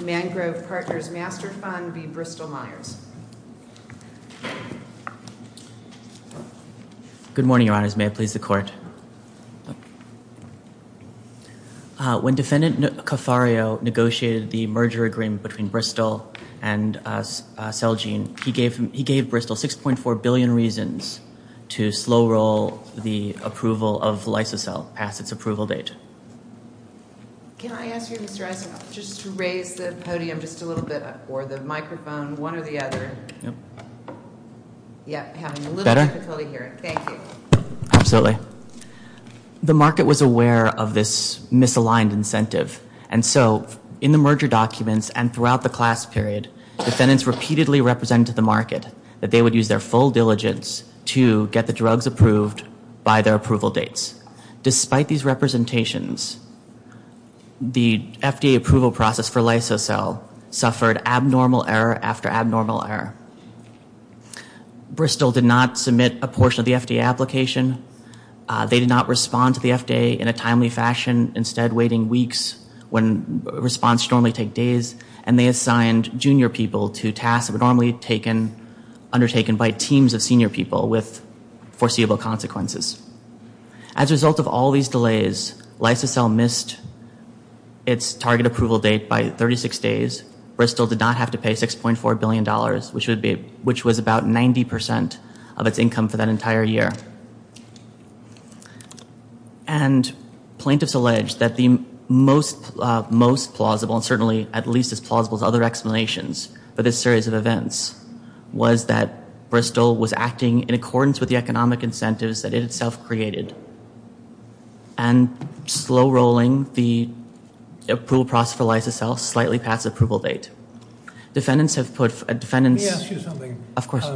Mangrove Partners Master Fund v. Bristol-Myers. Good morning, Your Honors. May it please the Court. When Defendant Cofario negotiated the merger agreement between Bristol and Celgene, he gave Bristol 6.4 billion reasons to slow-roll the approval of LysoCell past its approval date. Can I ask you, Mr. Eisenhoff, just to raise the podium just a little bit, or the microphone, one or the other? Yep. Yeah, I'm having a little difficulty hearing. Thank you. Absolutely. The market was aware of this misaligned incentive, and so in the merger documents and throughout the class period, defendants repeatedly represented to the market that they would use their full diligence to get the drugs approved by their approval dates. Despite these representations, the FDA approval process for LysoCell suffered abnormal error after abnormal error. Bristol did not submit a portion of the FDA application. They did not respond to the FDA in a timely fashion, instead waiting weeks when response should normally take days, and they assigned junior people to tasks that were normally undertaken by teams of senior people with foreseeable consequences. As a result of all these delays, LysoCell missed its target approval date by 36 days. Bristol did not have to pay $6.4 billion, which was about 90% of its income for that entire year. And plaintiffs alleged that the most plausible, and certainly at least as plausible as other explanations for this series of events, was that Bristol was acting in accordance with the economic incentives that it itself created, and slow-rolling the approval process for LysoCell slightly past the approval date. Defendants have put... Let me ask you something. Of course.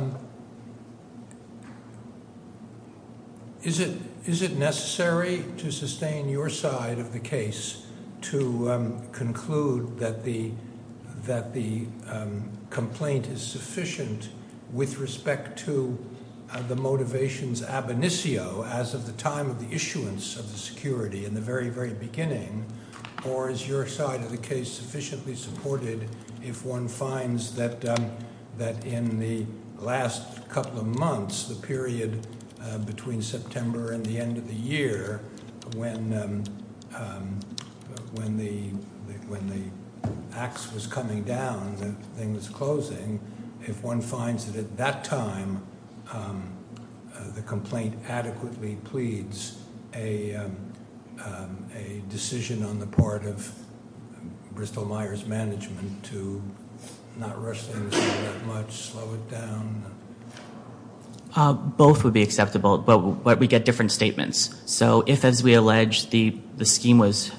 Is it necessary to sustain your side of the case to conclude that the complaint is sufficient with respect to the motivations ab initio, as of the time of the issuance of the security in the very, very beginning, or is your side of the case sufficiently supported if one finds that in the last couple of months, the period between September and the end of the year, when the axe was coming down, and the thing was closing, if one finds that at that time, the complaint adequately pleads a decision on the part of Bristol Myers Management to not rush things that much, slow it down? Both would be acceptable, but we get different statements. So if, as we allege, the scheme was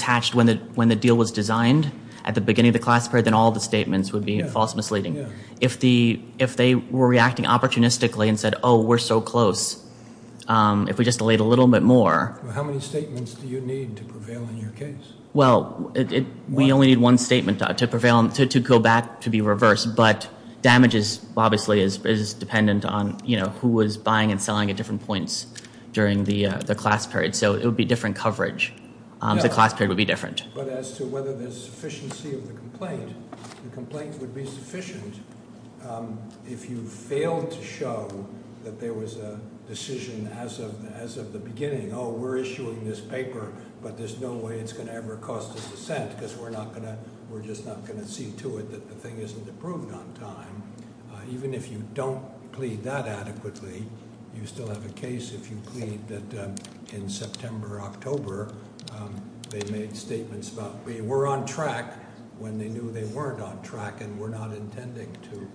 hatched when the deal was designed at the beginning of the class period, then all the statements would be false misleading. If they were reacting opportunistically and said, oh, we're so close, if we just delayed a little bit more... How many statements do you need to prevail in your case? Well, we only need one statement to prevail, to go back, to be reversed, but damages, obviously, is dependent on who was buying and selling at different points during the class period. So it would be different coverage. The class period would be different. But as to whether there's sufficiency of the complaint, the complaint would be sufficient if you failed to show that there was a decision as of the beginning. Oh, we're issuing this paper, but there's no way it's going to ever cost us a cent, because we're just not going to see to it that the thing isn't approved on time. Even if you don't plead that adequately, you still have a case if you plead that in September or October, they made statements about they were on track when they knew they weren't on track and were not intending to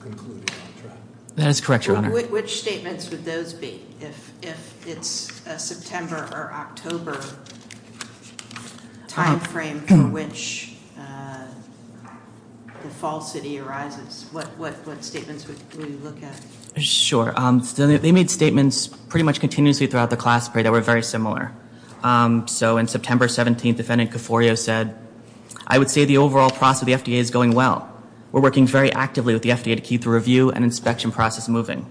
conclude on track. That is correct, Your Honor. Which statements would those be, if it's a September or October time frame for which the fall city arises? What statements would you look at? Sure. They made statements pretty much continuously throughout the class period that were very similar. So in September 17th, defendant Coforio said, I would say the overall process of the FDA is going well. We're working very actively with the FDA to keep the review and inspection process moving.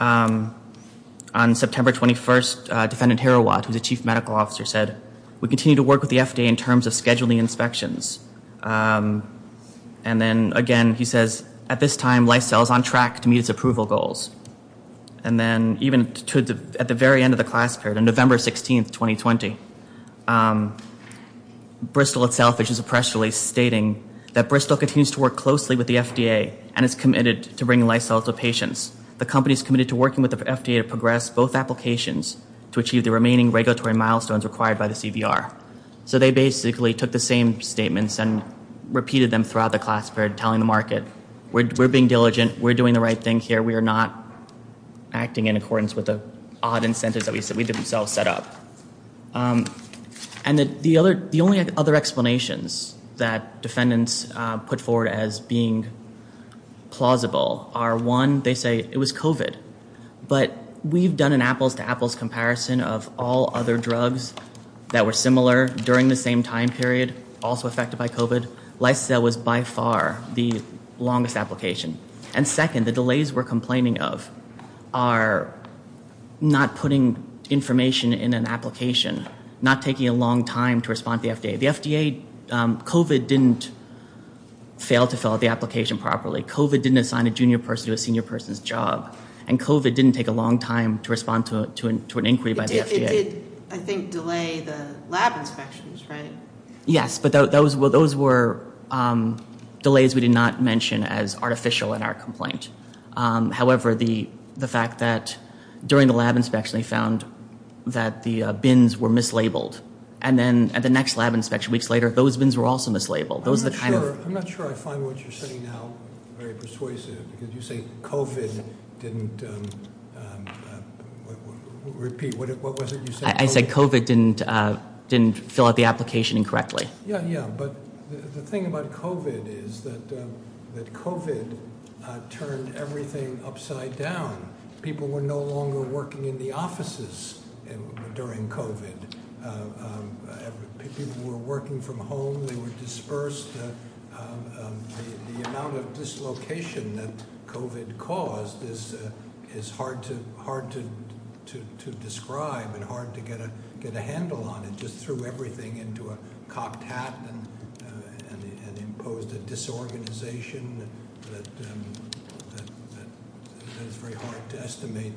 On September 21st, defendant Herowat, who's the chief medical officer, said, we continue to work with the FDA in terms of scheduling inspections. And then again, he says, at this time, Lysel is on track to meet its approval goals. And then even at the very end of the class period, on November 16th, 2020, Bristol itself issues a press release stating that Bristol continues to work closely with the FDA and is committed to bringing Lysel to patients. The company is committed to working with the FDA to progress both applications to achieve the remaining regulatory milestones required by the CVR. So they basically took the same statements and repeated them throughout the class period, telling the market, we're being diligent, we're doing the right thing here, we are not acting in accordance with the odd incentives that we did ourselves set up. And the only other explanations that defendants put forward as being plausible are, one, they say it was COVID. But we've done an apples-to-apples comparison of all other drugs that were similar during the same time period, also affected by COVID. Lysel was by far the longest application. And second, the delays we're complaining of are not putting information in an application, not taking a long time to respond to the FDA. The FDA, COVID didn't fail to fill out the application properly. COVID didn't assign a junior person to a senior person's job. And COVID didn't take a long time to respond to an inquiry by the FDA. It did, I think, delay the lab inspections, right? Yes, but those were delays we did not mention as artificial in our complaint. However, the fact that during the lab inspection, they found that the bins were mislabeled. And then at the next lab inspection weeks later, those bins were also mislabeled. I'm not sure I find what you're saying now very persuasive, because you say COVID didn't repeat. What was it you said? I said COVID didn't fill out the application correctly. Yeah, yeah. But the thing about COVID is that COVID turned everything upside down. People were no longer working in the offices during COVID. People were working from home. They were dispersed. The amount of dislocation that COVID caused is hard to describe and hard to get a handle on. It just threw everything into a cocked hat and imposed a disorganization that is very hard to estimate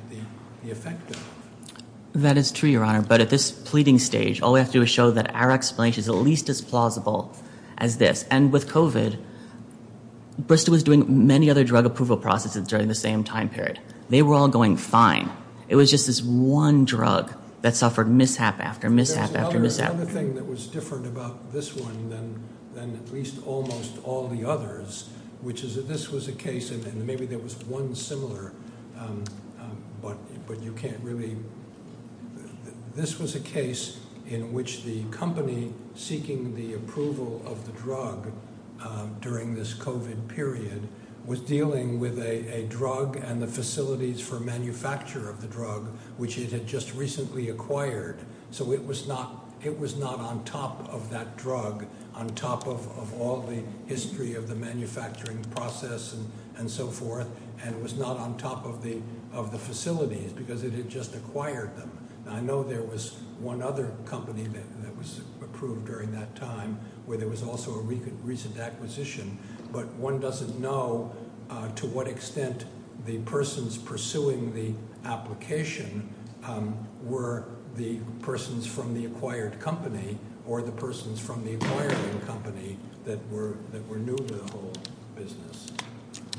the effect of. That is true, Your Honor. But at this pleading stage, all we have to do is show that our explanation is at least as plausible as this. And with COVID, Bristol was doing many other drug approval processes during the same time period. They were all going fine. It was just this one drug that suffered mishap after mishap after mishap. There's another thing that was different about this one than at least almost all the others, which is that this was a case, and maybe there was one similar, but you can't really – this was a case in which the company seeking the approval of the drug during this COVID period was dealing with a drug and the facilities for manufacture of the drug, which it had just recently acquired. So it was not on top of that drug, on top of all the history of the manufacturing process and so forth, and it was not on top of the facilities because it had just acquired them. I know there was one other company that was approved during that time where there was also a recent acquisition, but one doesn't know to what extent the persons pursuing the application were the persons from the acquired company or the persons from the acquiring company that were new to the whole business.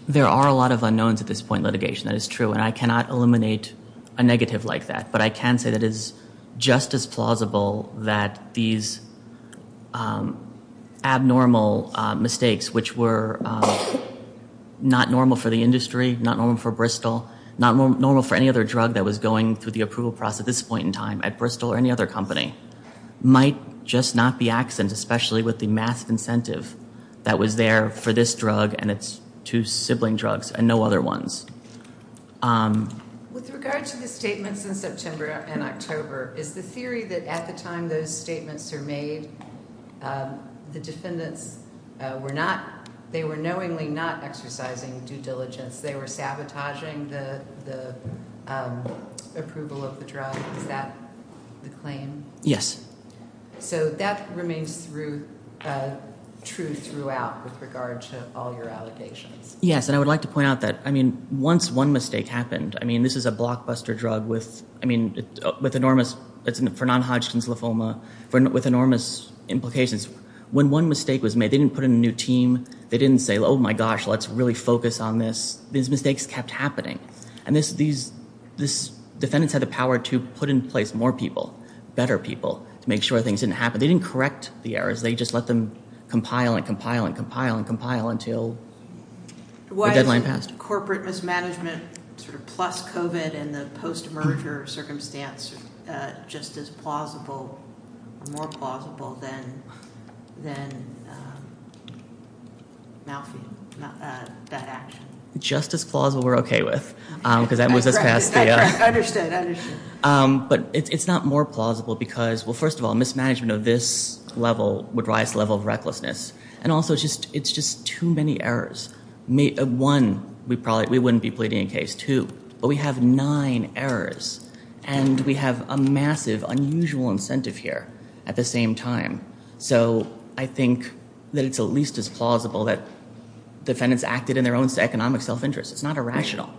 There are a lot of unknowns at this point in litigation. That is true, and I cannot eliminate a negative like that, but I can say that it is just as plausible that these abnormal mistakes, which were not normal for the industry, not normal for Bristol, not normal for any other drug that was going through the approval process at this point in time at Bristol or any other company, might just not be absent, especially with the mass incentive that was there for this drug and its two sibling drugs and no other ones. With regard to the statements in September and October, is the theory that at the time those statements were made, the defendants were not, they were knowingly not exercising due diligence? They were sabotaging the approval of the drug? Is that the claim? Yes. So that remains true throughout with regard to all your allegations? Yes, and I would like to point out that once one mistake happened, this is a blockbuster drug for non-Hodgkin's lymphoma with enormous implications. When one mistake was made, they didn't put in a new team. They didn't say, oh my gosh, let's really focus on this. These mistakes kept happening, and these defendants had the power to put in place more people, better people to make sure things didn't happen. They didn't correct the errors. They just let them compile and compile and compile and compile until the deadline passed. Why isn't corporate mismanagement sort of plus COVID and the post-merger circumstance just as plausible, more plausible than malfeasance, that action? Just as plausible, we're okay with, because that moves us past the. I understand, I understand. But it's not more plausible because, well, first of all, mismanagement of this level would rise to the level of recklessness, and also it's just too many errors. One, we wouldn't be pleading a case. Two, we have nine errors, and we have a massive, unusual incentive here at the same time. So I think that it's at least as plausible that defendants acted in their own economic self-interest. It's not irrational.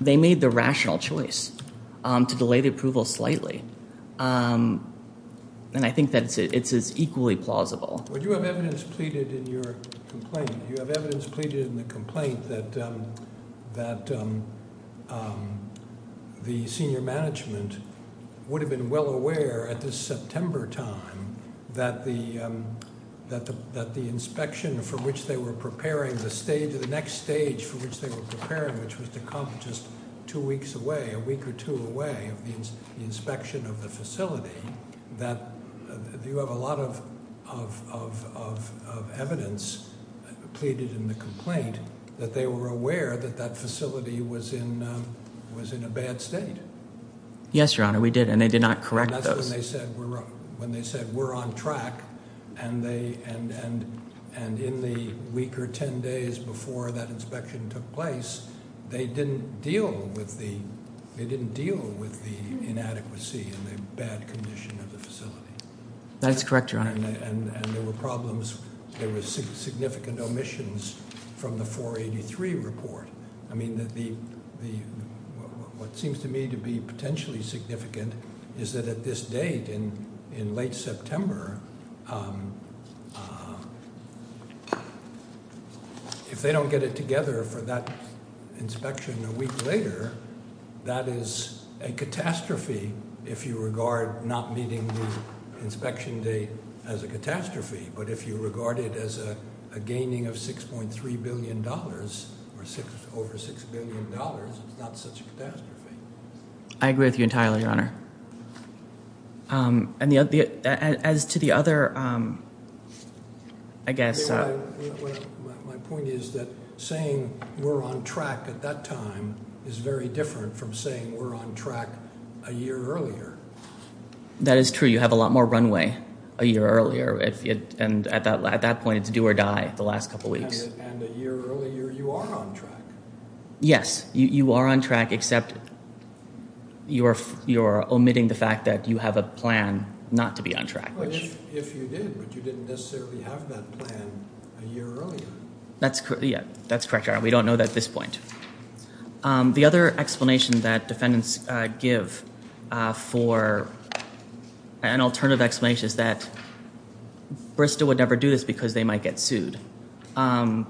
They made the rational choice to delay the approval slightly, and I think that it's equally plausible. Well, you have evidence pleaded in your complaint. You have evidence pleaded in the complaint that the senior management would have been well aware at this September time that the inspection for which they were preparing, the next stage for which they were preparing, which was to come just two weeks away, a week or two away of the inspection of the facility, that you have a lot of evidence pleaded in the complaint that they were aware that that facility was in a bad state. Yes, Your Honor, we did, and they did not correct those. When they said we're on track, and in the week or ten days before that inspection took place, they didn't deal with the inadequacy and the bad condition of the facility. That is correct, Your Honor. And there were problems, there were significant omissions from the 483 report. I mean, what seems to me to be potentially significant is that at this date in late September, if they don't get it together for that inspection a week later, that is a catastrophe if you regard not meeting the inspection date as a catastrophe, but if you regard it as a gaining of $6.3 billion or over $6 billion, it's not such a catastrophe. I agree with you entirely, Your Honor. As to the other, I guess— My point is that saying we're on track at that time is very different from saying we're on track a year earlier. That is true. You have a lot more runway a year earlier, and at that point, it's do or die the last couple weeks. And a year earlier, you are on track. Yes, you are on track, except you're omitting the fact that you have a plan not to be on track. If you did, but you didn't necessarily have that plan a year earlier. That's correct, Your Honor. We don't know that at this point. The other explanation that defendants give for an alternative explanation is that Bristol would never do this because they might get sued. And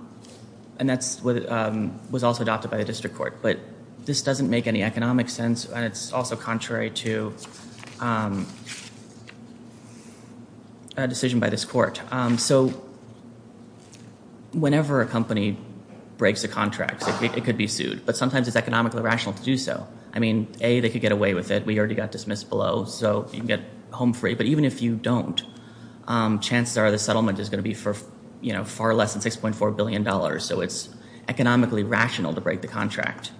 that was also adopted by the district court. But this doesn't make any economic sense, and it's also contrary to a decision by this court. So whenever a company breaks a contract, it could be sued. But sometimes it's economically rational to do so. I mean, A, they could get away with it. We already got dismissed below, so you can get home free. But even if you don't, chances are the settlement is going to be for far less than $6.4 billion. So it's economically rational to break the contract.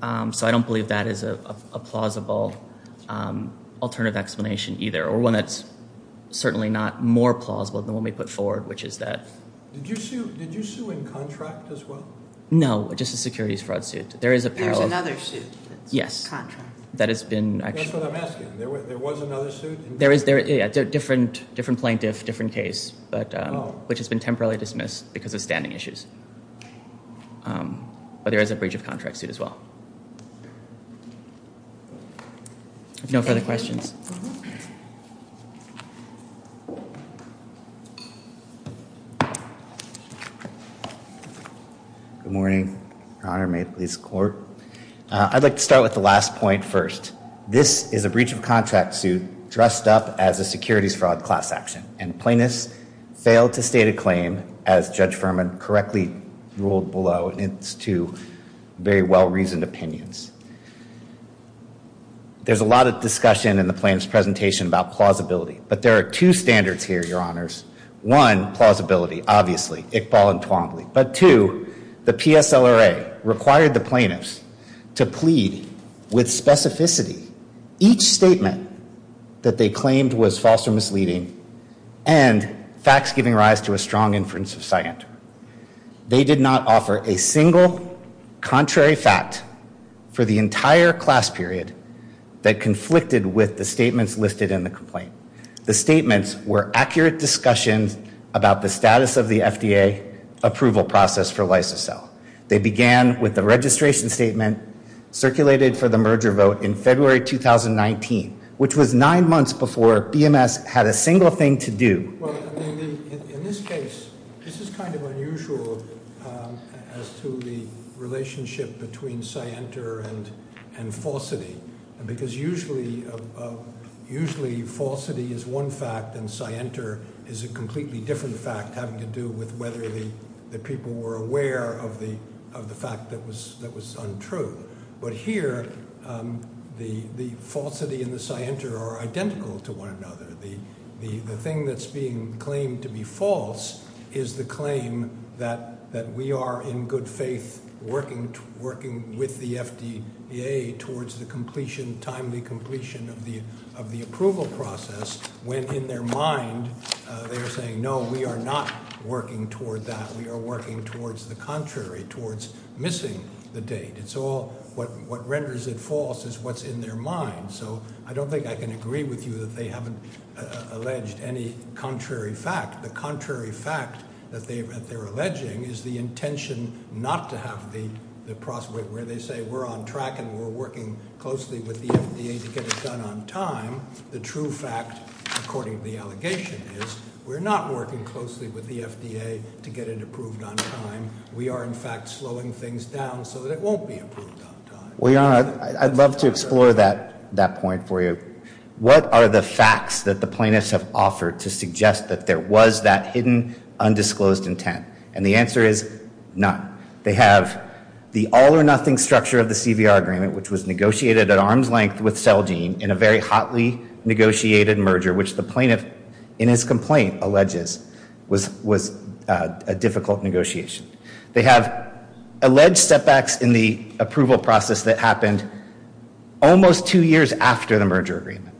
So I don't believe that is a plausible alternative explanation either, or one that's certainly not more plausible than the one we put forward, which is that. Did you sue in contract as well? No, just a securities fraud suit. There is another suit that's contract. That's what I'm asking. There was another suit? Yeah, different plaintiff, different case, which has been temporarily dismissed because of standing issues. But there is a breach of contract suit as well. If no further questions. Good morning, Your Honor. May it please the court. I'd like to start with the last point first. This is a breach of contract suit dressed up as a securities fraud class action, and plaintiffs failed to state a claim as Judge Furman correctly ruled below. And it's two very well-reasoned opinions. There's a lot of discussion in the plaintiff's presentation about plausibility. But there are two standards here, Your Honors. One, plausibility, obviously, Iqbal and Twombly. But two, the PSLRA required the plaintiffs to plead with specificity. Each statement that they claimed was false or misleading and facts giving rise to a strong inference of scienter. They did not offer a single contrary fact for the entire class period that conflicted with the statements listed in the complaint. The statements were accurate discussions about the status of the FDA approval process for Lysosel. They began with the registration statement circulated for the merger vote in February 2019, which was nine months before BMS had a single thing to do. Well, I mean, in this case, this is kind of unusual as to the relationship between scienter and falsity. Because usually falsity is one fact and scienter is a completely different fact having to do with whether the people were aware of the fact that was untrue. But here, the falsity and the scienter are identical to one another. The thing that's being claimed to be false is the claim that we are, in good faith, working with the FDA towards the timely completion of the approval process. When in their mind, they're saying, no, we are not working toward that. We are working towards the contrary, towards missing the date. It's all what renders it false is what's in their mind. So I don't think I can agree with you that they haven't alleged any contrary fact. The contrary fact that they're alleging is the intention not to have the process where they say, we're on track and we're working closely with the FDA to get it done on time. The true fact, according to the allegation, is we're not working closely with the FDA to get it approved on time. We are, in fact, slowing things down so that it won't be approved on time. Well, Your Honor, I'd love to explore that point for you. What are the facts that the plaintiffs have offered to suggest that there was that hidden, undisclosed intent? And the answer is none. They have the all-or-nothing structure of the CVR agreement, which was negotiated at arm's length with Celgene in a very hotly negotiated merger, which the plaintiff, in his complaint, alleges was a difficult negotiation. They have alleged setbacks in the approval process that happened almost two years after the merger agreement.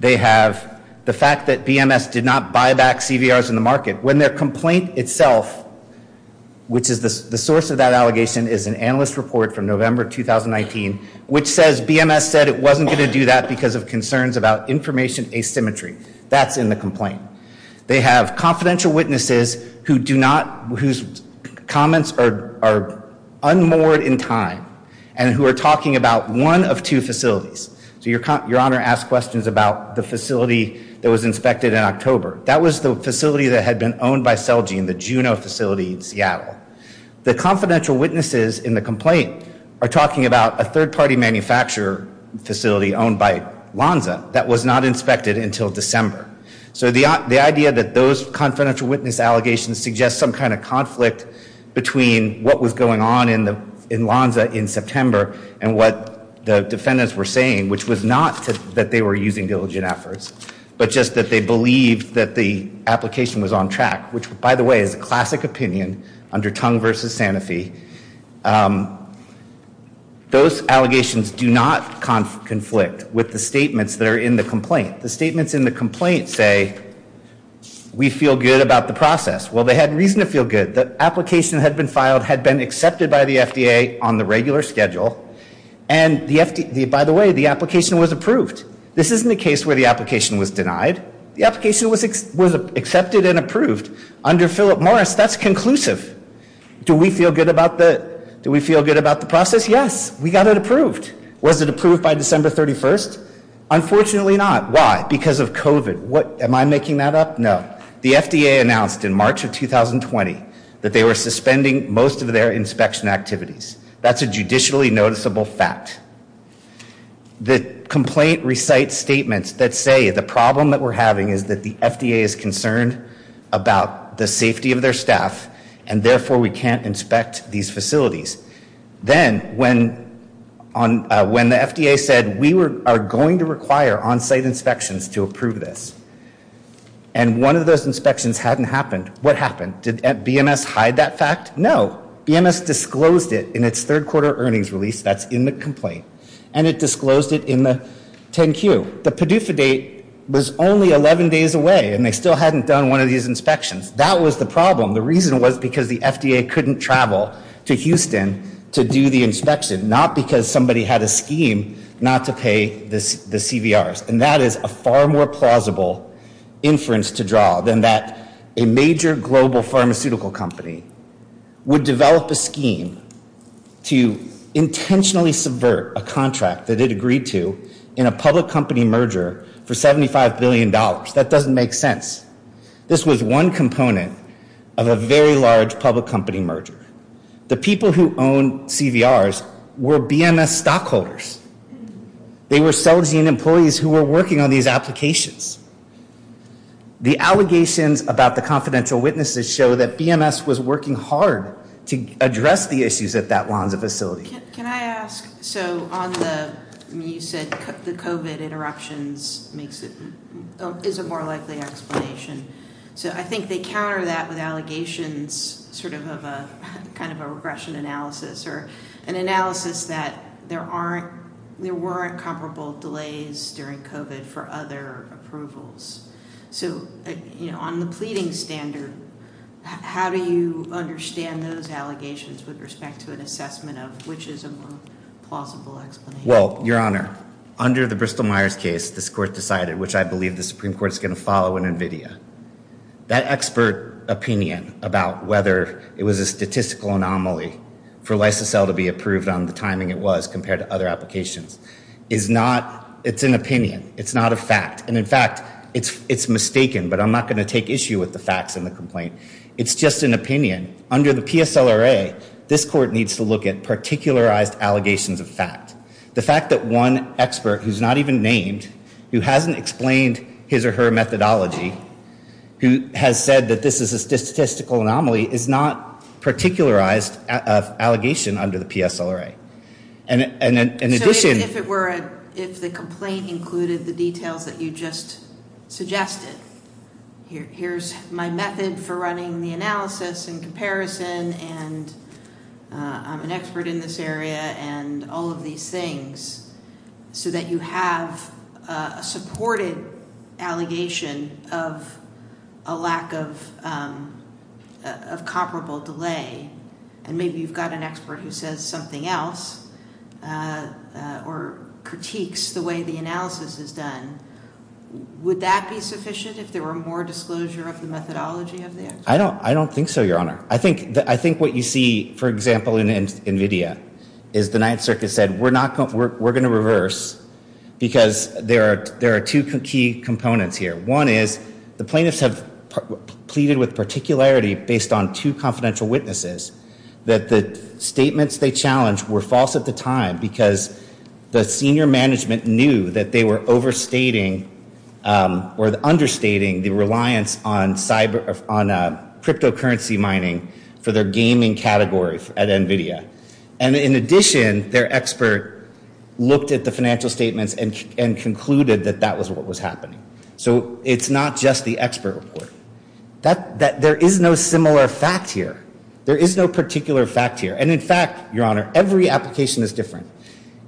They have the fact that BMS did not buy back CVRs in the market when their complaint itself, which is the source of that allegation, is an analyst report from November 2019, which says BMS said it wasn't going to do that because of concerns about information asymmetry. That's in the complaint. They have confidential witnesses whose comments are unmoored in time and who are talking about one of two facilities. So Your Honor asked questions about the facility that was inspected in October. That was the facility that had been owned by Celgene, the Juno facility in Seattle. The confidential witnesses in the complaint are talking about a third-party manufacturer facility owned by Lonza that was not inspected until December. So the idea that those confidential witness allegations suggest some kind of conflict between what was going on in Lonza in September and what the defendants were saying, which was not that they were using diligent efforts, but just that they believed that the application was on track, which, by the way, is a classic opinion under Tongue v. Sanofi. Those allegations do not conflict with the statements that are in the complaint. The statements in the complaint say, we feel good about the process. Well, they had reason to feel good. The application had been filed, had been accepted by the FDA on the regular schedule, and, by the way, the application was approved. This isn't a case where the application was denied. The application was accepted and approved under Philip Morris. That's conclusive. Do we feel good about the process? Yes, we got it approved. Was it approved by December 31st? Unfortunately not. Because of COVID. Am I making that up? No. The FDA announced in March of 2020 that they were suspending most of their inspection activities. That's a judicially noticeable fact. The complaint recites statements that say the problem that we're having is that the FDA is concerned about the safety of their staff, and, therefore, we can't inspect these facilities. Then, when the FDA said, we are going to require on-site inspections to approve this, and one of those inspections hadn't happened, what happened? Did BMS hide that fact? No. BMS disclosed it in its third-quarter earnings release that's in the complaint, and it disclosed it in the 10-Q. The PDUFA date was only 11 days away, and they still hadn't done one of these inspections. That was the problem. The reason was because the FDA couldn't travel to Houston to do the inspection, not because somebody had a scheme not to pay the CVRs, and that is a far more plausible inference to draw than that a major global pharmaceutical company would develop a scheme to intentionally subvert a contract that it agreed to in a public company merger for $75 billion. That doesn't make sense. This was one component of a very large public company merger. The people who owned CVRs were BMS stockholders. They were Celgene employees who were working on these applications. The allegations about the confidential witnesses show that BMS was working hard to address the issues at that Lanza facility. Can I ask, so you said the COVID interruptions is a more likely explanation. So I think they counter that with allegations sort of of a kind of a regression analysis or an analysis that there weren't comparable delays during COVID for other approvals. So, you know, on the pleading standard, how do you understand those allegations with respect to an assessment of which is a more plausible explanation? Well, Your Honor, under the Bristol-Myers case, this court decided, which I believe the Supreme Court is going to follow in NVIDIA, that expert opinion about whether it was a statistical anomaly for Lysacel to be approved on the timing it was compared to other applications is not, it's an opinion. It's not a fact. And, in fact, it's mistaken, but I'm not going to take issue with the facts in the complaint. It's just an opinion. Under the PSLRA, this court needs to look at particularized allegations of fact. The fact that one expert who's not even named, who hasn't explained his or her methodology, who has said that this is a statistical anomaly is not a particularized allegation under the PSLRA. So if the complaint included the details that you just suggested, here's my method for running the analysis and comparison, and I'm an expert in this area and all of these things, so that you have a supported allegation of a lack of comparable delay, and maybe you've got an expert who says something else or critiques the way the analysis is done, would that be sufficient if there were more disclosure of the methodology of the expert? I don't think so, Your Honor. I think what you see, for example, in NVIDIA is the Ninth Circuit said, we're going to reverse because there are two key components here. One is the plaintiffs have pleaded with particularity based on two confidential witnesses, that the statements they challenged were false at the time because the senior management knew that they were overstating or understating the reliance on cryptocurrency mining for their gaming category at NVIDIA. And in addition, their expert looked at the financial statements and concluded that that was what was happening. So it's not just the expert report. There is no similar fact here. There is no particular fact here. And in fact, Your Honor, every application is different.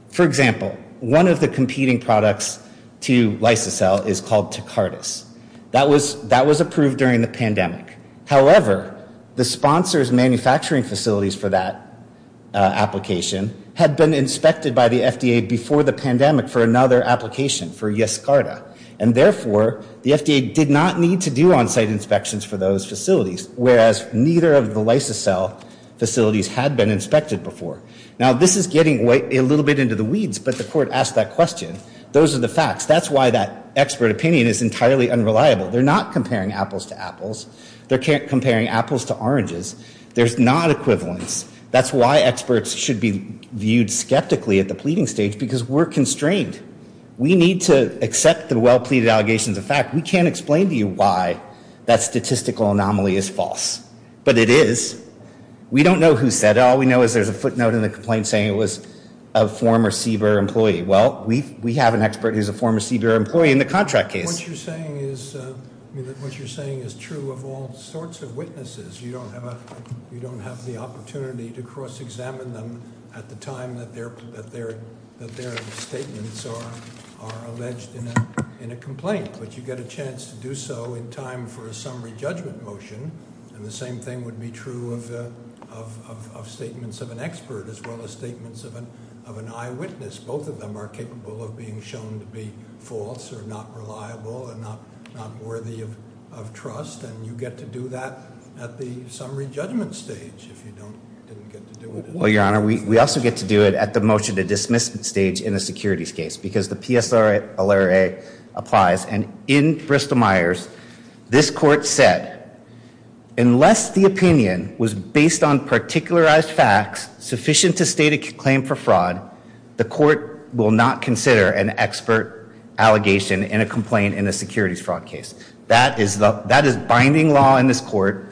For example, one of the competing products to Lysacel is called Takardas. That was approved during the pandemic. However, the sponsor's manufacturing facilities for that application had been inspected by the FDA before the pandemic for another application, for Yaskarta. And therefore, the FDA did not need to do on-site inspections for those facilities, whereas neither of the Lysacel facilities had been inspected before. Now, this is getting a little bit into the weeds, but the Court asked that question. Those are the facts. That's why that expert opinion is entirely unreliable. They're not comparing apples to apples. They're comparing apples to oranges. There's not equivalence. That's why experts should be viewed skeptically at the pleading stage, because we're constrained. We need to accept the well-pleaded allegations of fact. We can't explain to you why that statistical anomaly is false, but it is. We don't know who said it. All we know is there's a footnote in the complaint saying it was a former CBER employee. Well, we have an expert who's a former CBER employee in the contract case. What you're saying is true of all sorts of witnesses. You don't have the opportunity to cross-examine them at the time that their statements are alleged in a complaint, but you get a chance to do so in time for a summary judgment motion, and the same thing would be true of statements of an expert as well as statements of an eyewitness. Both of them are capable of being shown to be false or not reliable and not worthy of trust, and you get to do that at the summary judgment stage if you didn't get to do it. Well, Your Honor, we also get to do it at the motion to dismiss stage in a securities case, because the PSLRA applies, and in Bristol-Myers, this court said, unless the opinion was based on particularized facts sufficient to state a claim for fraud, the court will not consider an expert allegation in a complaint in a securities fraud case. That is binding law in this court,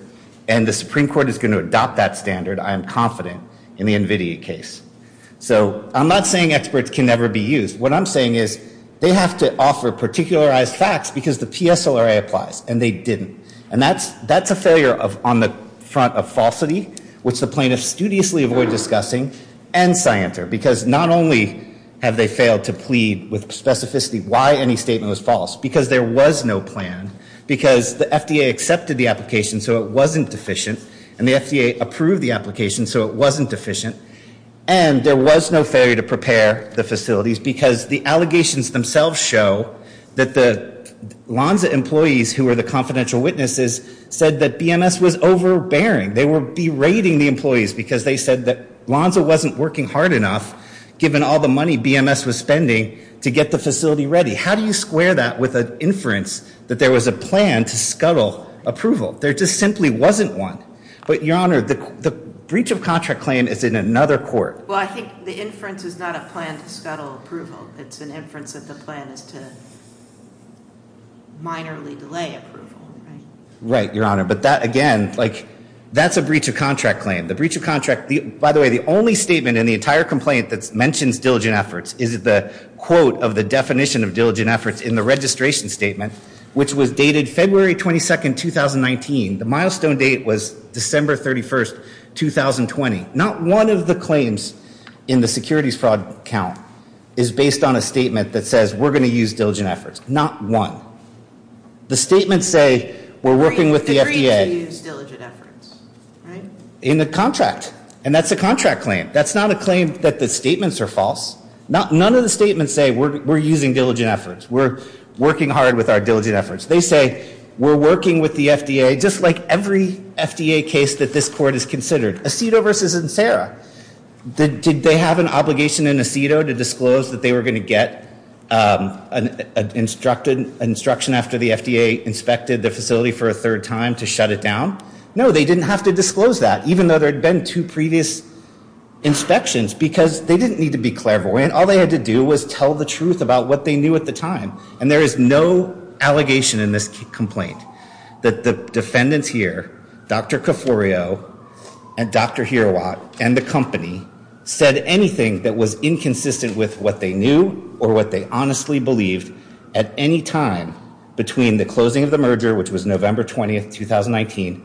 and the Supreme Court is going to adopt that standard, I am confident, in the NVIDIA case. So I'm not saying experts can never be used. What I'm saying is they have to offer particularized facts because the PSLRA applies, and they didn't. And that's a failure on the front of falsity, which the plaintiffs studiously avoid discussing, and scienter, because not only have they failed to plead with specificity why any statement was false, because there was no plan, because the FDA accepted the application, so it wasn't deficient, and the FDA approved the application, so it wasn't deficient, and there was no failure to prepare the facilities because the allegations themselves show that the Lonza employees, who were the confidential witnesses, said that BMS was overbearing. They were berating the employees because they said that Lonza wasn't working hard enough, given all the money BMS was spending, to get the facility ready. How do you square that with an inference that there was a plan to scuttle approval? There just simply wasn't one. But, Your Honor, the breach of contract claim is in another court. Well, I think the inference is not a plan to scuttle approval. It's an inference that the plan is to minorly delay approval, right? Right, Your Honor, but that, again, like, that's a breach of contract claim. The breach of contract, by the way, the only statement in the entire complaint that mentions diligent efforts is the quote of the definition of diligent efforts in the registration statement, which was dated February 22, 2019. The milestone date was December 31, 2020. Not one of the claims in the securities fraud count is based on a statement that says we're going to use diligent efforts. Not one. The statements say we're working with the FDA. You agreed to use diligent efforts, right? In the contract, and that's a contract claim. That's not a claim that the statements are false. None of the statements say we're using diligent efforts. We're working hard with our diligent efforts. They say we're working with the FDA, just like every FDA case that this court has considered. Acido versus Insera. Did they have an obligation in Acido to disclose that they were going to get an instruction after the FDA inspected the facility for a third time to shut it down? No, they didn't have to disclose that, even though there had been two previous inspections, because they didn't need to be clairvoyant. All they had to do was tell the truth about what they knew at the time, and there is no allegation in this complaint that the defendants here, Dr. Coforio and Dr. Hirawat and the company said anything that was inconsistent with what they knew or what they honestly believed at any time between the closing of the merger, which was November 20th, 2019,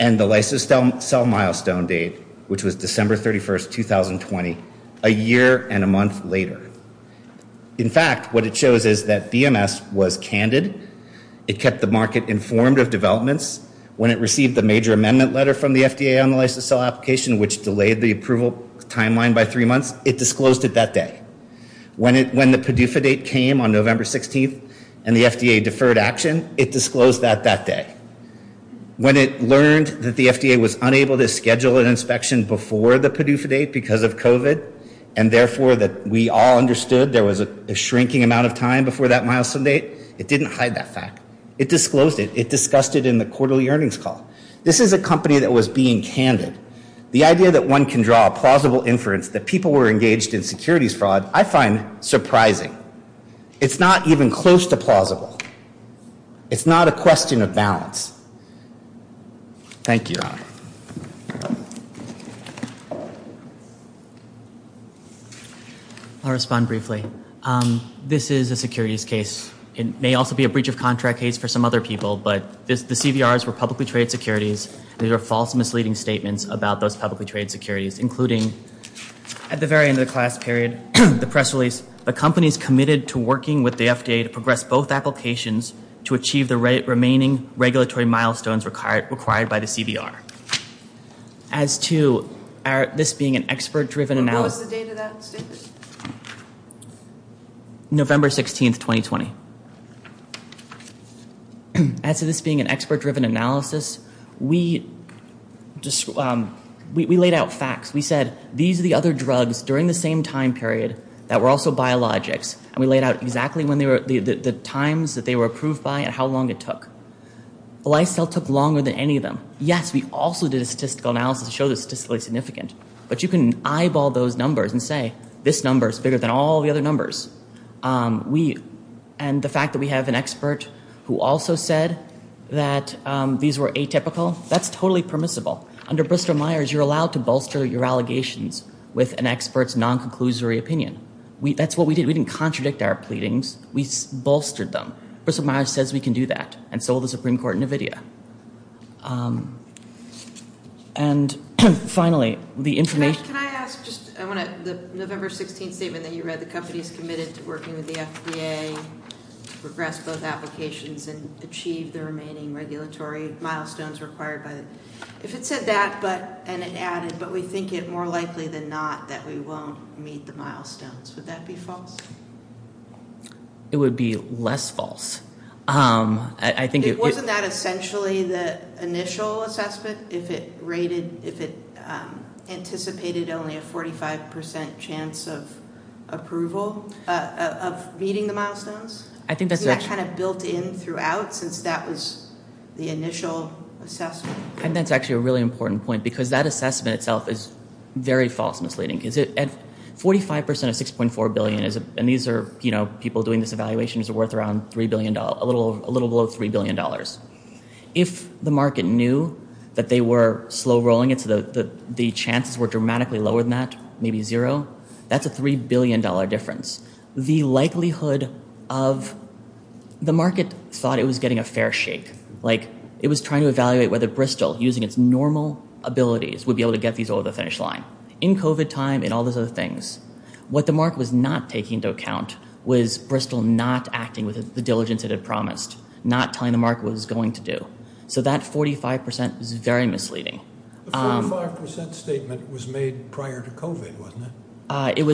and the license sale milestone date, which was December 31st, 2020, a year and a month later. In fact, what it shows is that BMS was candid. It kept the market informed of developments. When it received the major amendment letter from the FDA on the license sale application, which delayed the approval timeline by three months, it disclosed it that day. When the PDUFA date came on November 16th and the FDA deferred action, it disclosed that that day. When it learned that the FDA was unable to schedule an inspection before the PDUFA date because of COVID, and therefore that we all understood there was a shrinking amount of time before that milestone date, it didn't hide that fact. It disclosed it. It discussed it in the quarterly earnings call. This is a company that was being candid. The idea that one can draw a plausible inference that people were engaged in securities fraud I find surprising. It's not even close to plausible. It's not a question of balance. Thank you, Your Honor. I'll respond briefly. This is a securities case. It may also be a breach of contract case for some other people, but the CVRs were publicly traded securities. These are false misleading statements about those publicly traded securities, including at the very end of the class period, the press release, the companies committed to working with the FDA to progress both applications to achieve the remaining regulatory milestones required by the CVR. As to this being an expert-driven analysis. What was the date of that statement? November 16, 2020. As to this being an expert-driven analysis, we laid out facts. We said these are the other drugs during the same time period that were also biologics, and we laid out exactly the times that they were approved by and how long it took. The lifestyle took longer than any of them. Yes, we also did a statistical analysis to show the statistically significant, but you can eyeball those numbers and say this number is bigger than all the other numbers. And the fact that we have an expert who also said that these were atypical, that's totally permissible. Under Bristol-Myers, you're allowed to bolster your allegations with an expert's non-conclusory opinion. That's what we did. We didn't contradict our pleadings. We bolstered them. Bristol-Myers says we can do that, and so will the Supreme Court in NVIDIA. And finally, the information – Matt, can I ask just – I want to – the November 16 statement that you read, the company is committed to working with the FDA to progress both applications and achieve the remaining regulatory milestones required by the – if it said that and it added, but we think it more likely than not that we won't meet the milestones, would that be false? It would be less false. I think it – Wasn't that essentially the initial assessment, if it rated – if it anticipated only a 45% chance of approval, of meeting the milestones? I think that's – Isn't that kind of built in throughout since that was the initial assessment? I think that's actually a really important point because that assessment itself is very false and misleading. 45% of $6.4 billion is – and these are people doing this evaluation – is worth around $3 billion, a little below $3 billion. If the market knew that they were slow rolling it, so the chances were dramatically lower than that, maybe zero, that's a $3 billion difference. The likelihood of – the market thought it was getting a fair shake. It was trying to evaluate whether Bristol, using its normal abilities, would be able to get these over the finish line. Now, in COVID time and all those other things, what the market was not taking into account was Bristol not acting with the diligence it had promised, not telling the market what it was going to do. So that 45% was very misleading. The 45% statement was made prior to COVID, wasn't it? It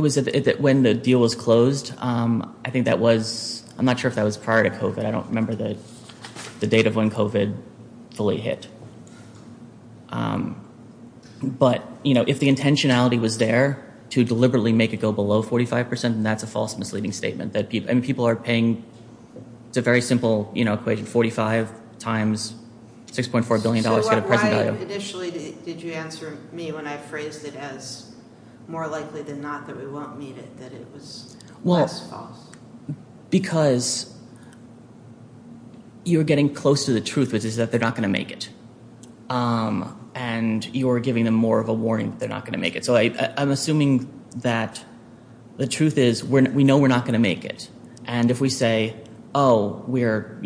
was when the deal was closed. I think that was – I'm not sure if that was prior to COVID. I don't remember the date of when COVID fully hit. But if the intentionality was there to deliberately make it go below 45%, then that's a false misleading statement. People are paying – it's a very simple equation. 45 times $6.4 billion to get a present item. So why initially did you answer me when I phrased it as more likely than not that we won't meet it, that it was less false? Because you're getting close to the truth, which is that they're not going to make it. And you're giving them more of a warning that they're not going to make it. So I'm assuming that the truth is we know we're not going to make it. And if we say, oh, we're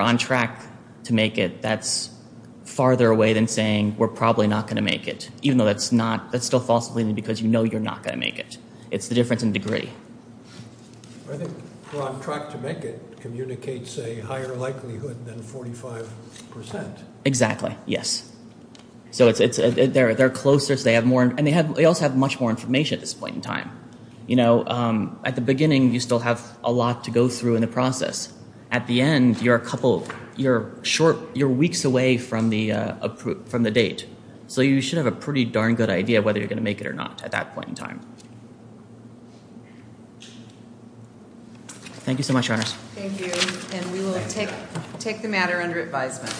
on track to make it, that's farther away than saying we're probably not going to make it, even though that's still false misleading because you know you're not going to make it. It's the difference in degree. I think we're on track to make it communicates a higher likelihood than 45%. Exactly, yes. So they're closer, and they also have much more information at this point in time. At the beginning, you still have a lot to go through in the process. At the end, you're a couple – you're weeks away from the date. So you should have a pretty darn good idea whether you're going to make it or not at that point in time. Thank you so much, Your Honors. Thank you, and we will take the matter under advisement.